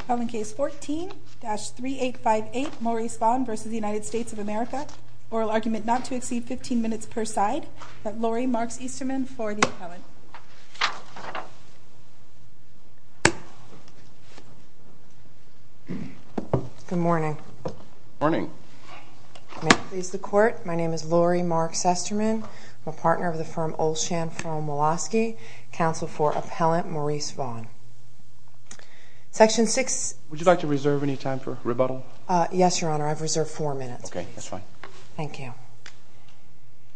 Appellant case 14-3858 Maurice Vaughn v. United States of America Oral argument not to exceed 15 minutes per side Lori Marks-Easterman for the appellant Good morning Morning May it please the court, my name is Lori Marks-Easterman I'm a partner of the firm Olshan firm Woloski Counsel for appellant Maurice Vaughn Section 6... Would you like to reserve any time for rebuttal? Yes, your honor, I've reserved 4 minutes Okay, that's fine Thank you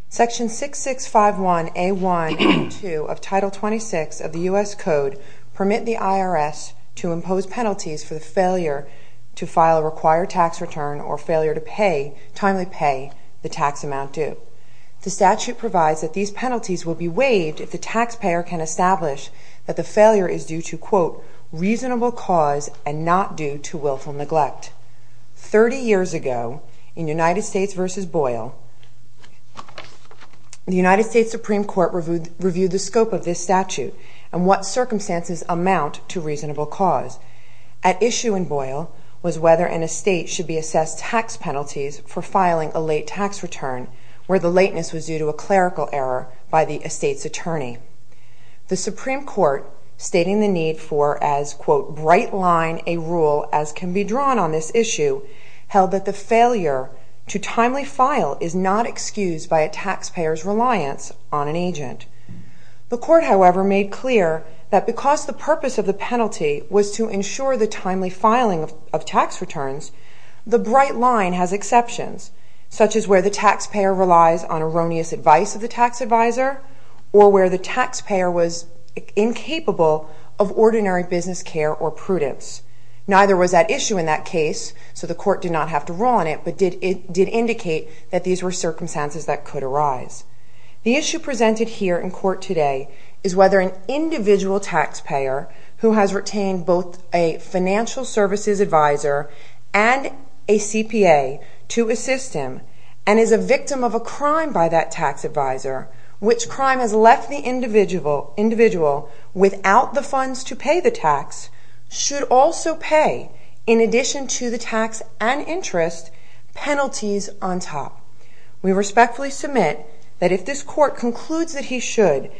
Section 6651A1-2 of Title 26 of the U.S. Code Permit the IRS to impose penalties for the failure to file a required tax return or failure to pay, timely pay, the tax amount due The statute provides that these penalties will be waived if the taxpayer can establish that the failure is due to, quote, reasonable cause and not due to willful neglect 30 years ago, in United States v. Boyle The United States Supreme Court reviewed the scope of this statute and what circumstances amount to reasonable cause At issue in Boyle was whether an estate should be assessed tax penalties for filing a late tax return where the lateness was due to a clerical error by the estate's attorney The Supreme Court, stating the need for as, quote, bright line a rule as can be drawn on this issue held that the failure to timely file is not excused by a taxpayer's reliance on an agent The court, however, made clear that because the purpose of the penalty was to ensure the timely filing of tax returns the bright line has exceptions, such as where the taxpayer relies on erroneous advice of the tax advisor or where the taxpayer was incapable of ordinary business care or prudence Neither was at issue in that case, so the court did not have to rule on it but did indicate that these were circumstances that could arise The issue presented here in court today is whether an individual taxpayer who has retained both a financial services advisor and a CPA to assist him and is a victim of a crime by that tax advisor which crime has left the individual without the funds to pay the tax should also pay, in addition to the tax and interest, penalties on top We respectfully submit that if this court concludes that he should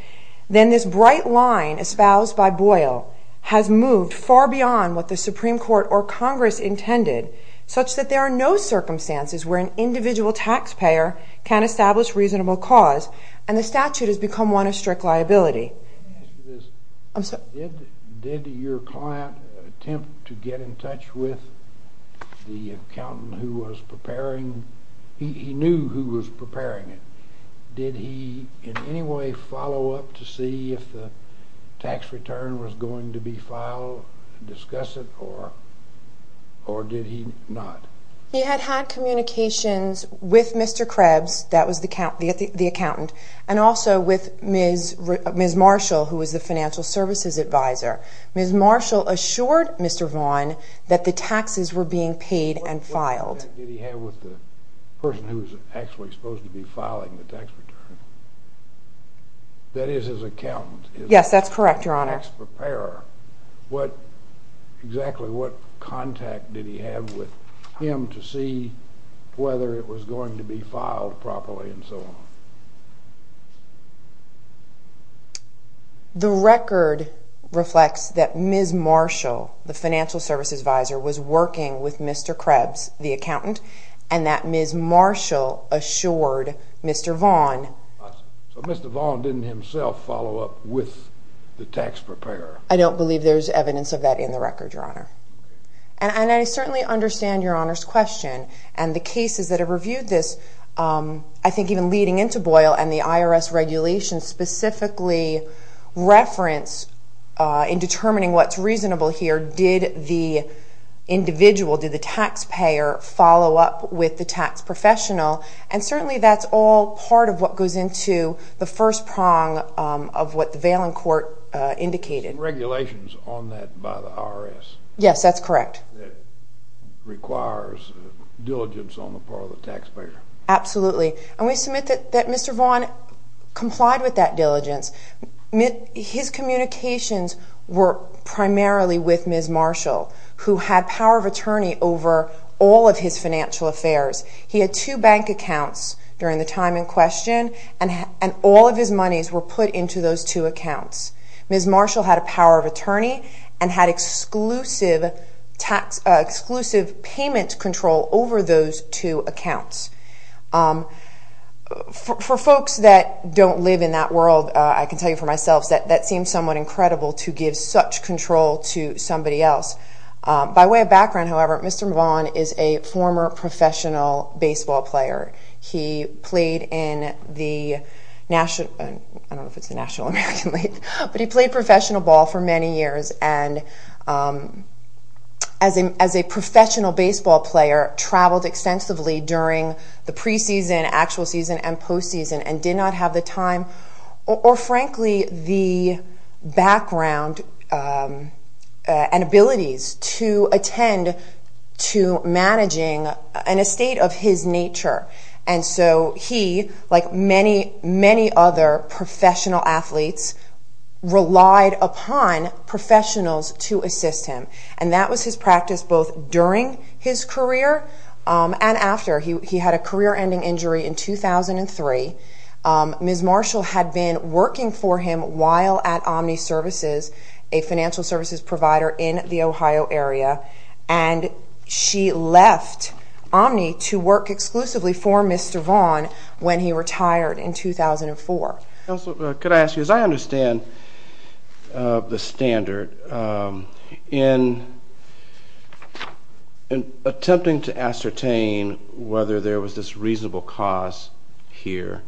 then this bright line espoused by Boyle has moved far beyond what the Supreme Court or Congress intended such that there are no circumstances where an individual taxpayer can establish reasonable cause and the statute has become one of strict liability Did your client attempt to get in touch with the accountant who was preparing? He knew who was preparing it Did he in any way follow up to see if the tax return was going to be filed discuss it or did he not? He had had communications with Mr. Krebs, that was the accountant and also with Ms. Marshall who was the financial services advisor Ms. Marshall assured Mr. Vaughn that the taxes were being paid and filed What contact did he have with the person who was actually supposed to be filing the tax return? That is his accountant? Yes, that's correct, your honor What exactly, what contact did he have with him to see whether it was going to be filed properly and so on? The record reflects that Ms. Marshall, the financial services advisor, was working with Mr. Krebs, the accountant and that Ms. Marshall assured Mr. Vaughn So Mr. Vaughn didn't himself follow up with the tax preparer? I don't believe there's evidence of that in the record, your honor And I certainly understand your honor's question and the cases that have reviewed this, I think even leading into Boyle and the IRS regulations specifically reference in determining what's reasonable here did the individual, did the taxpayer follow up with the tax professional and certainly that's all part of what goes into the first prong of what the Valen court indicated There's some regulations on that by the IRS Yes, that's correct that requires diligence on the part of the taxpayer Absolutely, and we submit that Mr. Vaughn complied with that diligence His communications were primarily with Ms. Marshall who had power of attorney over all of his financial affairs He had two bank accounts during the time in question and all of his monies were put into those two accounts Ms. Marshall had a power of attorney and had exclusive payment control over those two accounts For folks that don't live in that world, I can tell you for myself that seems somewhat incredible to give such control to somebody else By way of background, however, Mr. Vaughn is a former professional baseball player I don't know if it's the National American League but he played professional ball for many years and as a professional baseball player, traveled extensively during the preseason, actual season, and postseason and did not have the time or frankly the background and abilities to attend to managing an estate of his nature and so he, like many other professional athletes, relied upon professionals to assist him and that was his practice both during his career and after He had a career-ending injury in 2003 Ms. Marshall had been working for him while at Omni Services a financial services provider in the Ohio area and she left Omni to work exclusively for Mr. Vaughn when he retired in 2004 Counselor, could I ask you, as I understand the standard in attempting to ascertain whether there was this reasonable cause here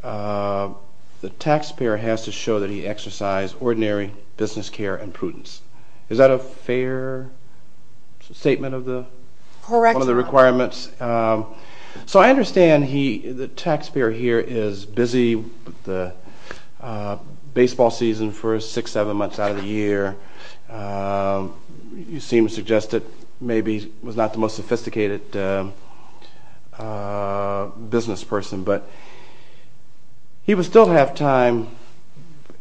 the taxpayer has to show that he exercised ordinary business care and prudence Is that a fair statement of the requirements? Correct So I understand the taxpayer here is busy with the baseball season for 6-7 months out of the year You seem to suggest that maybe he was not the most sophisticated business person but he would still have time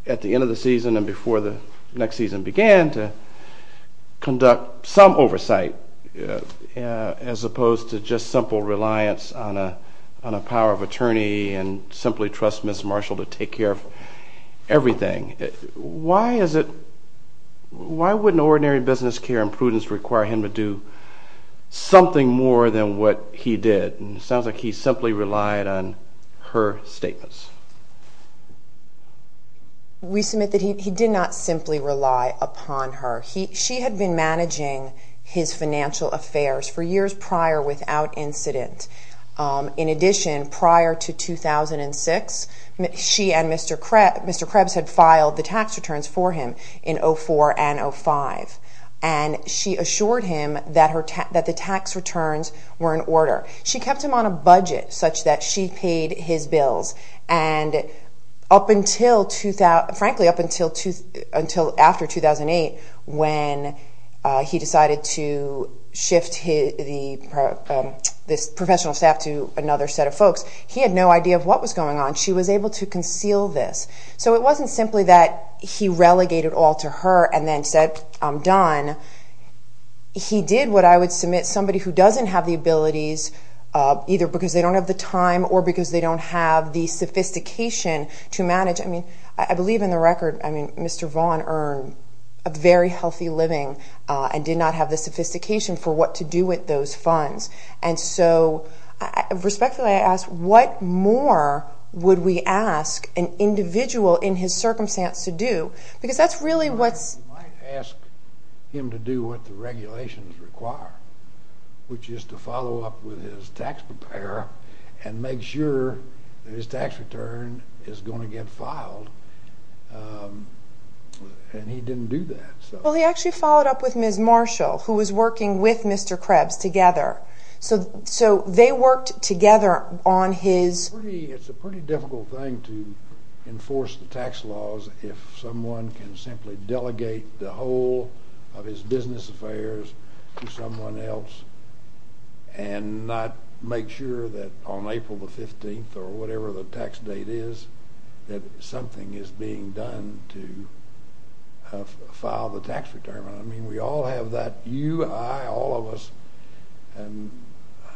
at the end of the season and before the next season began to conduct some oversight as opposed to just simple reliance on a power of attorney and simply trust Ms. Marshall to take care of everything Why wouldn't ordinary business care and prudence require him to do something more than what he did? It sounds like he simply relied on her statements We submit that he did not simply rely upon her She had been managing his financial affairs for years prior without incident In addition, prior to 2006, she and Mr. Krebs had filed the tax returns for him in 2004 and 2005 and she assured him that the tax returns were in order She kept him on a budget such that she paid his bills and frankly up until after 2008 when he decided to shift this professional staff to another set of folks he had no idea of what was going on She was able to conceal this So it wasn't simply that he relegated all to her and then said, I'm done He did what I would submit, somebody who doesn't have the abilities either because they don't have the time or because they don't have the sophistication to manage I believe in the record, Mr. Vaughn earned a very healthy living and did not have the sophistication for what to do with those funds and so respectfully I ask, what more would we ask an individual in his circumstance to do? You might ask him to do what the regulations require which is to follow up with his tax preparer and make sure that his tax return is going to get filed and he didn't do that Well he actually followed up with Ms. Marshall who was working with Mr. Krebs together So they worked together on his It's a pretty difficult thing to enforce the tax laws if someone can simply delegate the whole of his business affairs to someone else and not make sure that on April the 15th or whatever the tax date is that something is being done to file the tax return I mean we all have that, you, I, all of us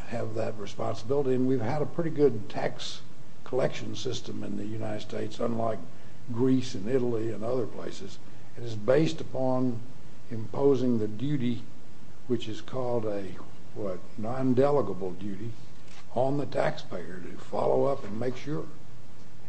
have that responsibility and we've had a pretty good tax collection system in the United States unlike Greece and Italy and other places and it's based upon imposing the duty which is called a non-delegable duty on the tax payer to follow up and make sure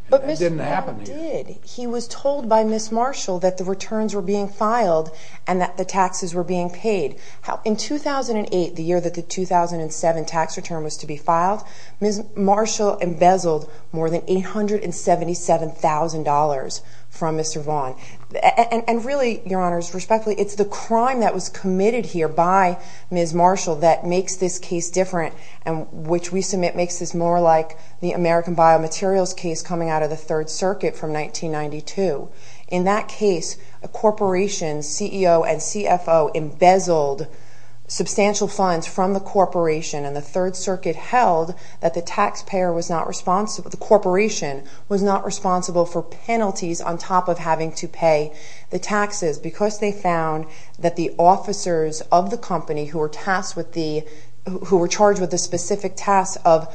But Mr. Vaughn did, he was told by Ms. Marshall that the returns were being filed and that the taxes were being paid In 2008, the year that the 2007 tax return was to be filed Ms. Marshall embezzled more than $877,000 from Mr. Vaughn And really, Your Honors, respectfully, it's the crime that was committed here by Ms. Marshall that makes this case different and which we submit makes this more like the American Biomaterials case coming out of the Third Circuit from 1992 In that case, a corporation, CEO and CFO embezzled substantial funds from the corporation and the Third Circuit held that the corporation was not responsible for penalties on top of having to pay the taxes because they found that the officers of the company who were charged with the specific task of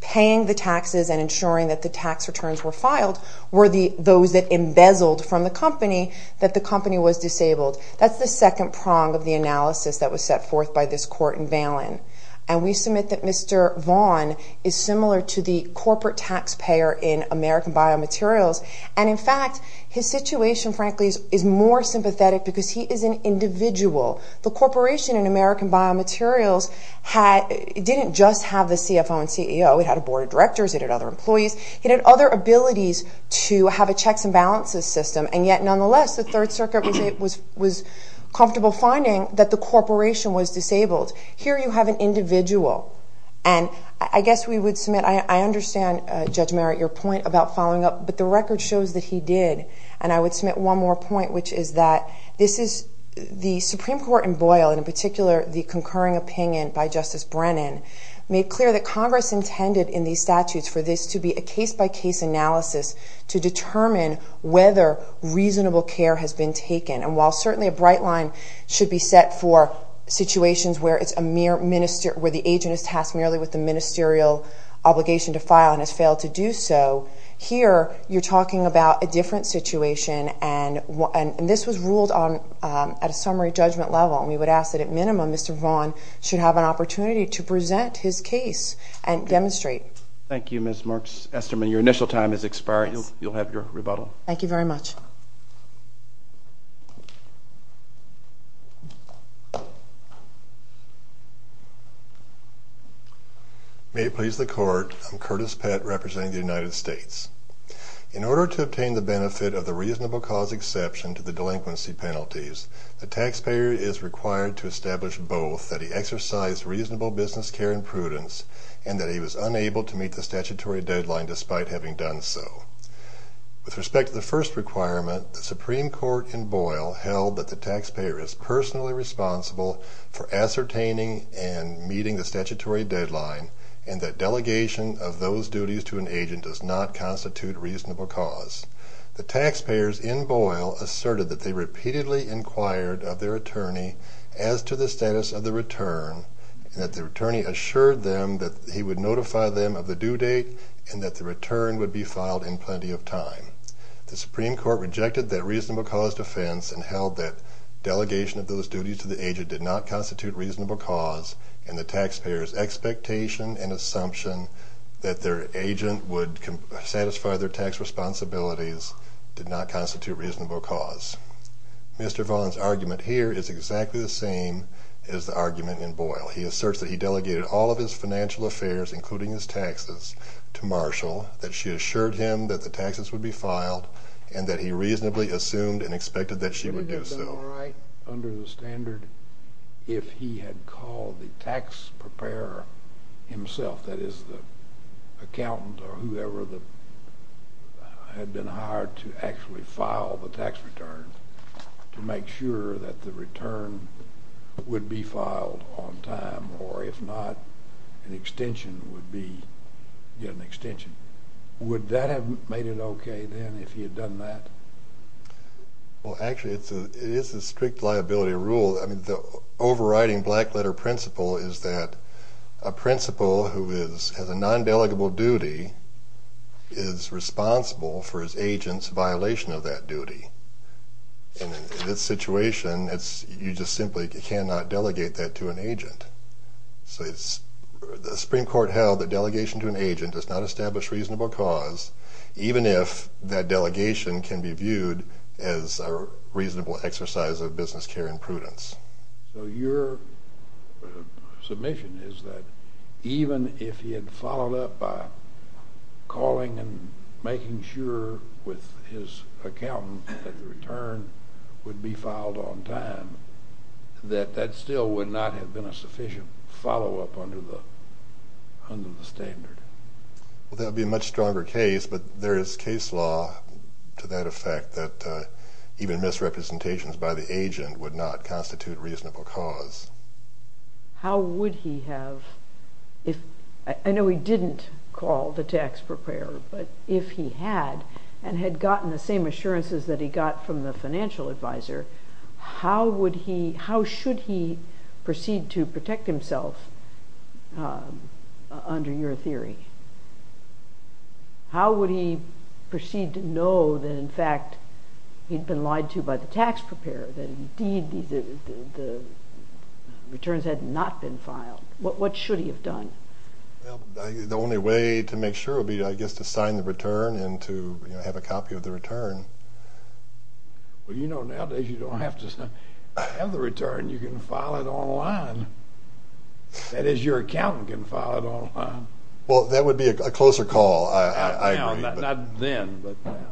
paying the taxes and ensuring that the tax returns were filed were those that embezzled from the company that the company was disabled That's the second prong of the analysis that was set forth by this court in Valen And we submit that Mr. Vaughn is similar to the corporate tax payer in American Biomaterials and in fact, his situation, frankly, is more sympathetic because he is an individual The corporation in American Biomaterials didn't just have the CFO and CEO It had a board of directors, it had other employees It had other abilities to have a checks and balances system and yet, nonetheless, the Third Circuit was comfortable finding that the corporation was disabled Here you have an individual and I guess we would submit I understand, Judge Merritt, your point about following up but the record shows that he did and I would submit one more point, which is that this is the Supreme Court in Boyle and in particular, the concurring opinion by Justice Brennan made clear that Congress intended in these statutes for this to be a case-by-case analysis to determine whether reasonable care has been taken and while certainly a bright line should be set for situations where the agent is tasked merely with the ministerial obligation to file and has failed to do so here, you're talking about a different situation and this was ruled at a summary judgment level and we would ask that at minimum, Mr. Vaughn should have an opportunity to present his case and demonstrate Thank you, Ms. Marks-Esterman Your initial time has expired You'll have your rebuttal Thank you very much May it please the Court I'm Curtis Pett, representing the United States In order to obtain the benefit of the reasonable cause exception to the delinquency penalties the taxpayer is required to establish both that he exercised reasonable business care and prudence and that he was unable to meet the statutory deadline despite having done so With respect to the first requirement the Supreme Court in Boyle held that the taxpayer is personally responsible for ascertaining and meeting the statutory deadline and that delegation of those duties to an agent does not constitute reasonable cause The taxpayers in Boyle asserted that they repeatedly inquired of their attorney as to the status of the return and that the attorney assured them that he would notify them of the due date and that the return would be filed in plenty of time The Supreme Court rejected that reasonable cause defense and held that delegation of those duties to the agent did not constitute reasonable cause and the taxpayer's expectation and assumption that their agent would satisfy their tax responsibilities did not constitute reasonable cause Mr. Vaughn's argument here is exactly the same as the argument in Boyle He asserts that he delegated all of his financial affairs, including his taxes to Marshall, that she assured him that the taxes would be filed and that he reasonably assumed and expected that she would do so Wouldn't it have been all right under the standard if he had called the tax preparer himself, that is the accountant or whoever had been hired to actually file the tax return to make sure that the return would be filed on time or if not, an extension would be an extension Would that have made it okay then if he had done that? Actually, it is a strict liability rule The overriding black letter principle is that a principal who has a non-delegable duty is responsible for his agent's violation of that duty In this situation, you just simply cannot delegate that to an agent The Supreme Court held that delegation to an agent does not establish reasonable cause even if that delegation can be viewed as a reasonable exercise of business care and prudence So your submission is that even if he had followed up by calling and making sure with his accountant that the return would be filed on time that that still would not have been a sufficient follow-up under the standard That would be a much stronger case but there is case law to that effect that even misrepresentations by the agent would not constitute reasonable cause How would he have, I know he didn't call the tax preparer but if he had and had gotten the same assurances that he got from the financial advisor how should he proceed to protect himself under your theory? How would he proceed to know that in fact he had been lied to by the tax preparer that indeed the returns had not been filed? What should he have done? The only way to make sure would be I guess to sign the return and to have a copy of the return Well you know nowadays you don't have to have the return, you can file it online That is your accountant can file it online Well that would be a closer call, I agree Not now, not then, but now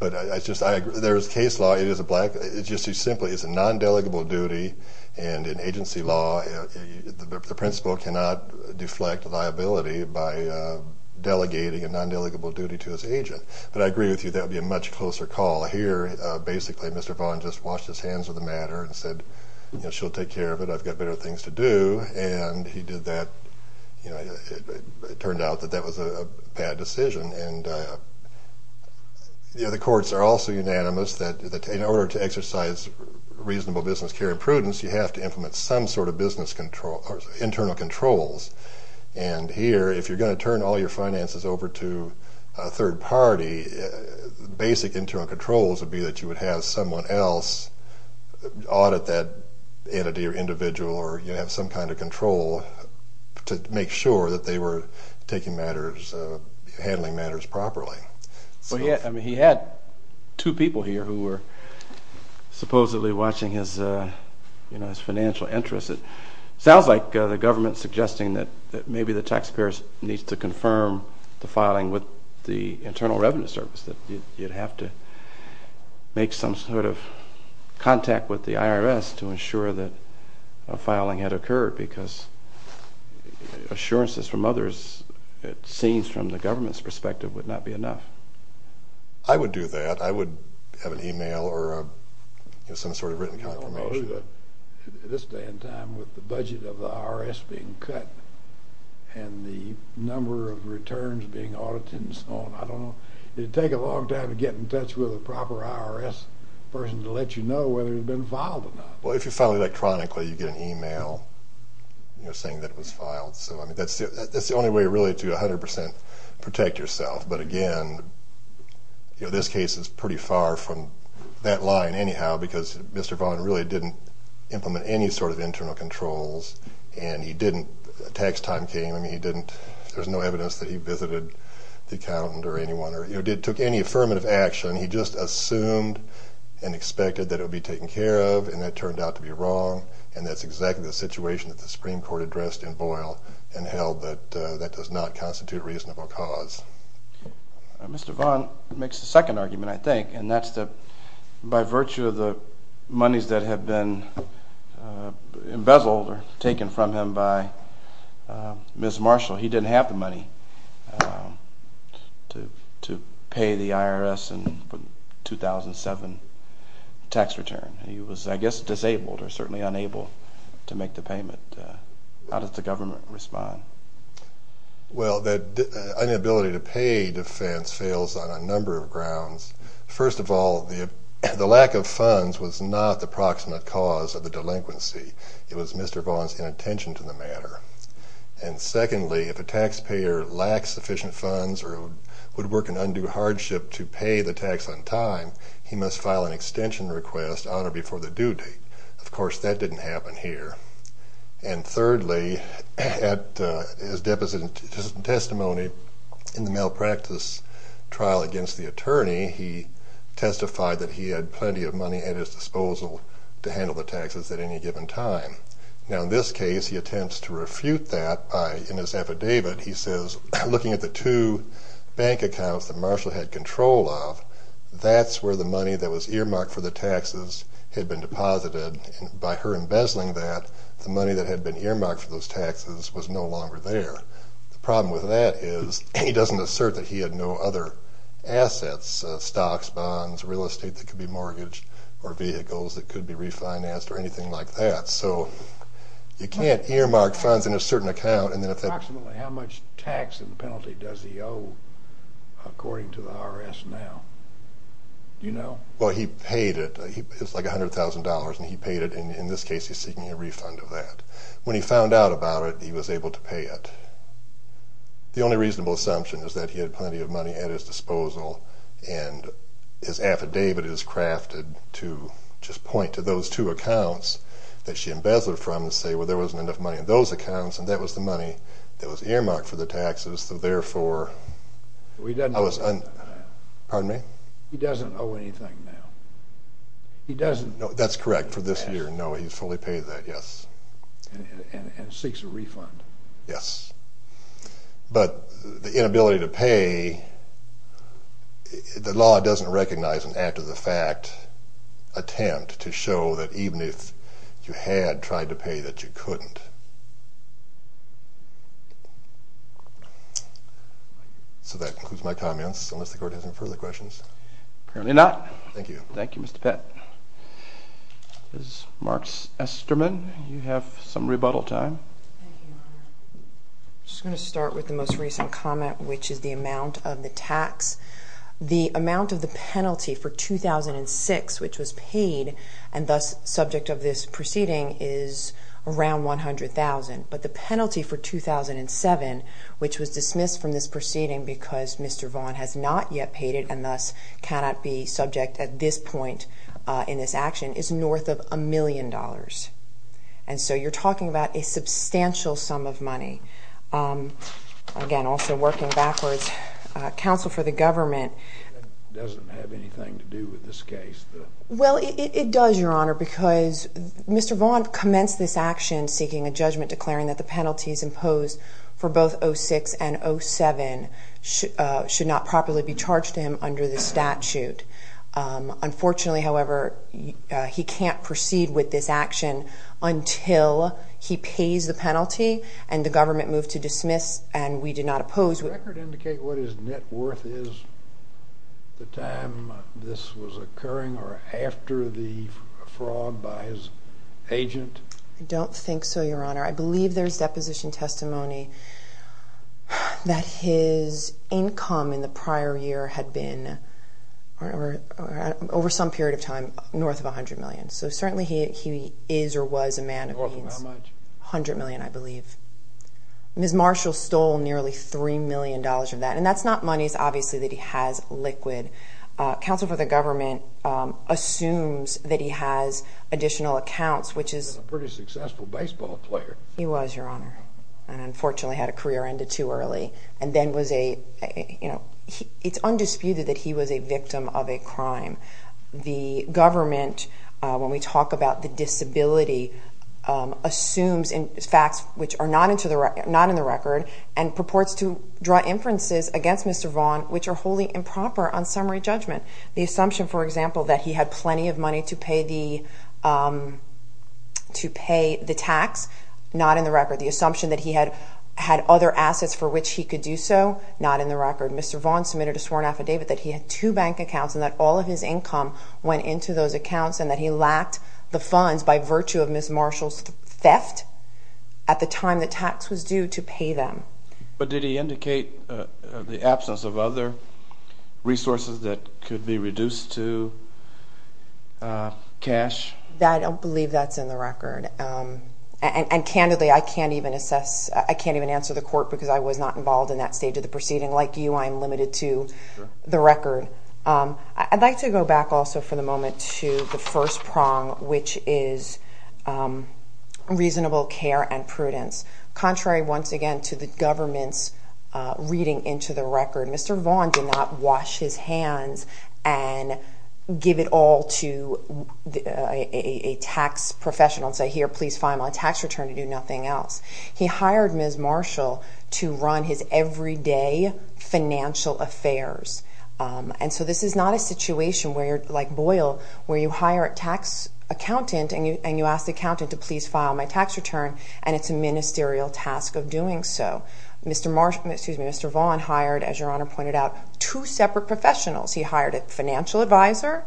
But I just, I agree, there is case law, it is a black, it's just too simple it's a non-delegable duty and in agency law the principal cannot deflect liability by delegating a non-delegable duty to his agent But I agree with you, that would be a much closer call Here basically Mr. Vaughan just washed his hands of the matter and said she'll take care of it, I've got better things to do and he did that, it turned out that that was a bad decision and the courts are also unanimous that in order to exercise reasonable business care and prudence you have to implement some sort of internal controls and here if you're going to turn all your finances over to a third party basic internal controls would be that you would have someone else audit that entity or individual or you have some kind of control to make sure that they were taking matters, handling matters properly Well he had two people here who were supposedly watching his financial interests It sounds like the government is suggesting that maybe the taxpayers need to confirm the filing with the Internal Revenue Service, that you'd have to make some sort of contact with the IRS to ensure that a filing had occurred because assurances from others it seems from the government's perspective would not be enough I would do that, I would have an email or some sort of written confirmation I don't know who at this day and time with the budget of the IRS being cut and the number of returns being audited and so on, I don't know it would take a long time to get in touch with a proper IRS person to let you know whether it had been filed or not Well if you file electronically you get an email saying that it was filed so that's the only way really to 100% protect yourself but again, this case is pretty far from that line anyhow because Mr. Vaughn really didn't implement any sort of internal controls and he didn't, tax time came, there was no evidence that he visited the accountant or anyone or took any affirmative action, he just assumed and expected that it would be taken care of and that turned out to be wrong and that's exactly the situation that the Supreme Court addressed in Boyle and held that that does not constitute a reasonable cause Mr. Vaughn makes the second argument I think and that's that by virtue of the monies that have been embezzled or taken from him by Ms. Marshall he didn't have the money to pay the IRS in 2007 tax return he was I guess disabled or certainly unable to make the payment How does the government respond? Well the inability to pay defense fails on a number of grounds first of all, the lack of funds was not the proximate cause of the delinquency it was Mr. Vaughn's inattention to the matter and secondly, if a taxpayer lacks sufficient funds or would work an undue hardship to pay the tax on time he must file an extension request on or before the due date of course that didn't happen here and thirdly, at his deposition testimony in the malpractice trial against the attorney he testified that he had plenty of money at his disposal to handle the taxes at any given time now in this case he attempts to refute that in his affidavit he says looking at the two bank accounts that Marshall had control of that's where the money that was earmarked for the taxes had been deposited by her embezzling that, the money that had been earmarked for those taxes was no longer there the problem with that is he doesn't assert that he had no other assets stocks, bonds, real estate that could be mortgaged or vehicles that could be refinanced or anything like that so you can't earmark funds in a certain account Approximately how much tax and penalty does he owe according to the IRS now? Well he paid it, it was like $100,000 and he paid it and in this case he's seeking a refund of that when he found out about it he was able to pay it the only reasonable assumption is that he had plenty of money at his disposal and his affidavit is crafted to just point to those two accounts that she embezzled from to say well there wasn't enough money in those accounts and that was the money that was earmarked for the taxes so therefore he doesn't owe anything now that's correct for this year, no he's fully paid that, yes and seeks a refund yes but the inability to pay the law doesn't recognize an act of the fact attempt to show that even if you had tried to pay that you couldn't so that concludes my comments unless the court has any further questions Apparently not, thank you Thank you Mr. Pett Ms. Marks-Esterman you have some rebuttal time Thank you I'm just going to start with the most recent comment which is the amount of the tax the amount of the penalty for 2006 which was paid and thus subject of this proceeding is around $100,000 but the penalty for 2007 which was dismissed from this proceeding because Mr. Vaughn has not yet paid it and thus cannot be subject at this point in this action is north of a million dollars again also working backwards, counsel for the government that doesn't have anything to do with this case well it does your honor because Mr. Vaughn commenced this action seeking a judgment declaring that the penalties imposed for both 06 and 07 should not properly be charged to him under the statute unfortunately however he can't proceed with this action until he pays the penalty and the government moves to dismiss and we do not oppose Does the record indicate what his net worth is at the time this was occurring or after the fraud by his agent? I don't think so your honor, I believe there is deposition testimony that his income in the prior year had been over some period of time north of $100,000 so certainly he is or was a man of means north of how much? $100,000 I believe Ms. Marshall stole nearly $3,000,000 of that and that's not monies obviously that he has liquid counsel for the government assumes that he has additional accounts which is a pretty successful baseball player he was your honor and unfortunately had a career ended too early and then was a, you know, it's undisputed that he was a victim of a crime the government when we talk about the disability assumes facts which are not in the record and purports to draw inferences against Mr. Vaughn which are wholly improper on summary judgment the assumption for example that he had plenty of money to pay the to pay the tax, not in the record the assumption that he had other assets for which he could do so not in the record Mr. Vaughn submitted a sworn affidavit that he had two bank accounts and that all of his income went into those accounts and that he lacked the funds by virtue of Ms. Marshall's theft at the time the tax was due to pay them but did he indicate the absence of other resources that could be reduced to cash? I don't believe that's in the record and candidly I can't even assess, I can't even answer the court because I was not involved in that stage of the proceeding like you I'm limited to the record I'd like to go back also for the moment to the first prong which is reasonable care and prudence contrary once again to the government's reading into the record Mr. Vaughn did not wash his hands and give it all to a tax professional and say here please fine my tax return and do nothing else he hired Ms. Marshall to run his everyday financial affairs and so this is not a situation where you're like Boyle where you hire a tax accountant and you ask the accountant to please file my tax return and it's a ministerial task of doing so Mr. Vaughn hired as your honor pointed out two separate professionals he hired a financial advisor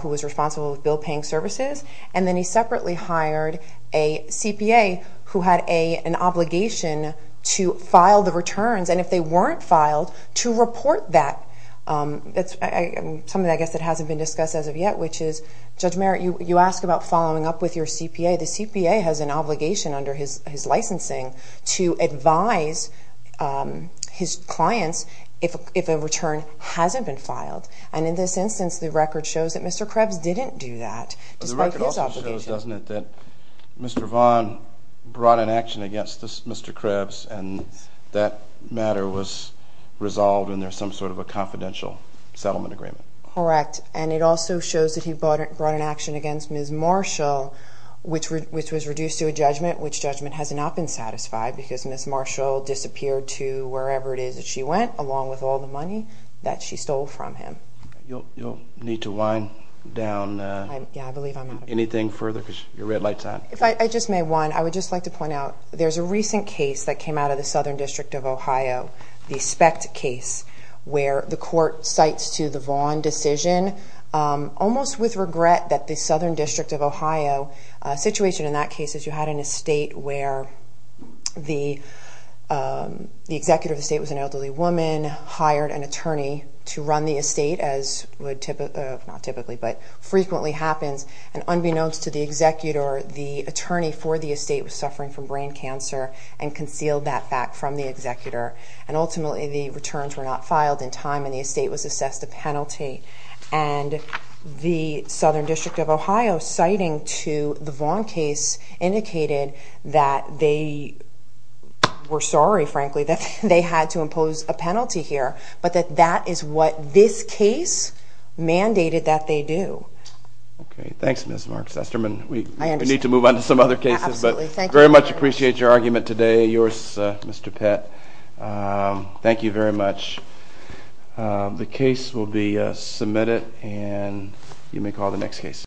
who was responsible with bill paying services and then he separately hired a CPA who had an obligation to file the returns and if they weren't filed to report that something I guess that hasn't been discussed as of yet which is Judge Merritt you ask about following up with your CPA the CPA has an obligation under his licensing to advise his clients if a return hasn't been filed and in this instance the record shows that Mr. Krebs didn't do that the record also shows doesn't it that Mr. Vaughn brought an action against Mr. Krebs and that matter was resolved in there some sort of a confidential settlement agreement correct and it also shows that he brought an action against Ms. Marshall which was reduced to a judgment which judgment has not been satisfied because Ms. Marshall disappeared to wherever it is that she went along with all the money that she stole from him you'll need to wind down anything further because your red light's on if I just may one I would just like to point out there's a recent case that came out of the Southern District of Ohio the SPECT case where the court cites to the Vaughn decision almost with regret that the Southern District of Ohio situation in that case is you had an estate where the executive of the estate was an elderly woman hired an attorney to run the estate as would typically not typically but frequently happens and unbeknownst to the executor the attorney for the estate was suffering from brain cancer and concealed that fact from the executor and ultimately the returns were not filed in time and the estate was assessed a penalty and the Southern District of Ohio citing to the Vaughn case indicated that they were sorry frankly that they had to impose a penalty here but that that is what this case mandated that they do Okay, thanks Ms. Marks-Esterman We need to move on to some other cases but very much appreciate your argument today Yours Mr. Pett Thank you very much The case will be submitted and you may call the next case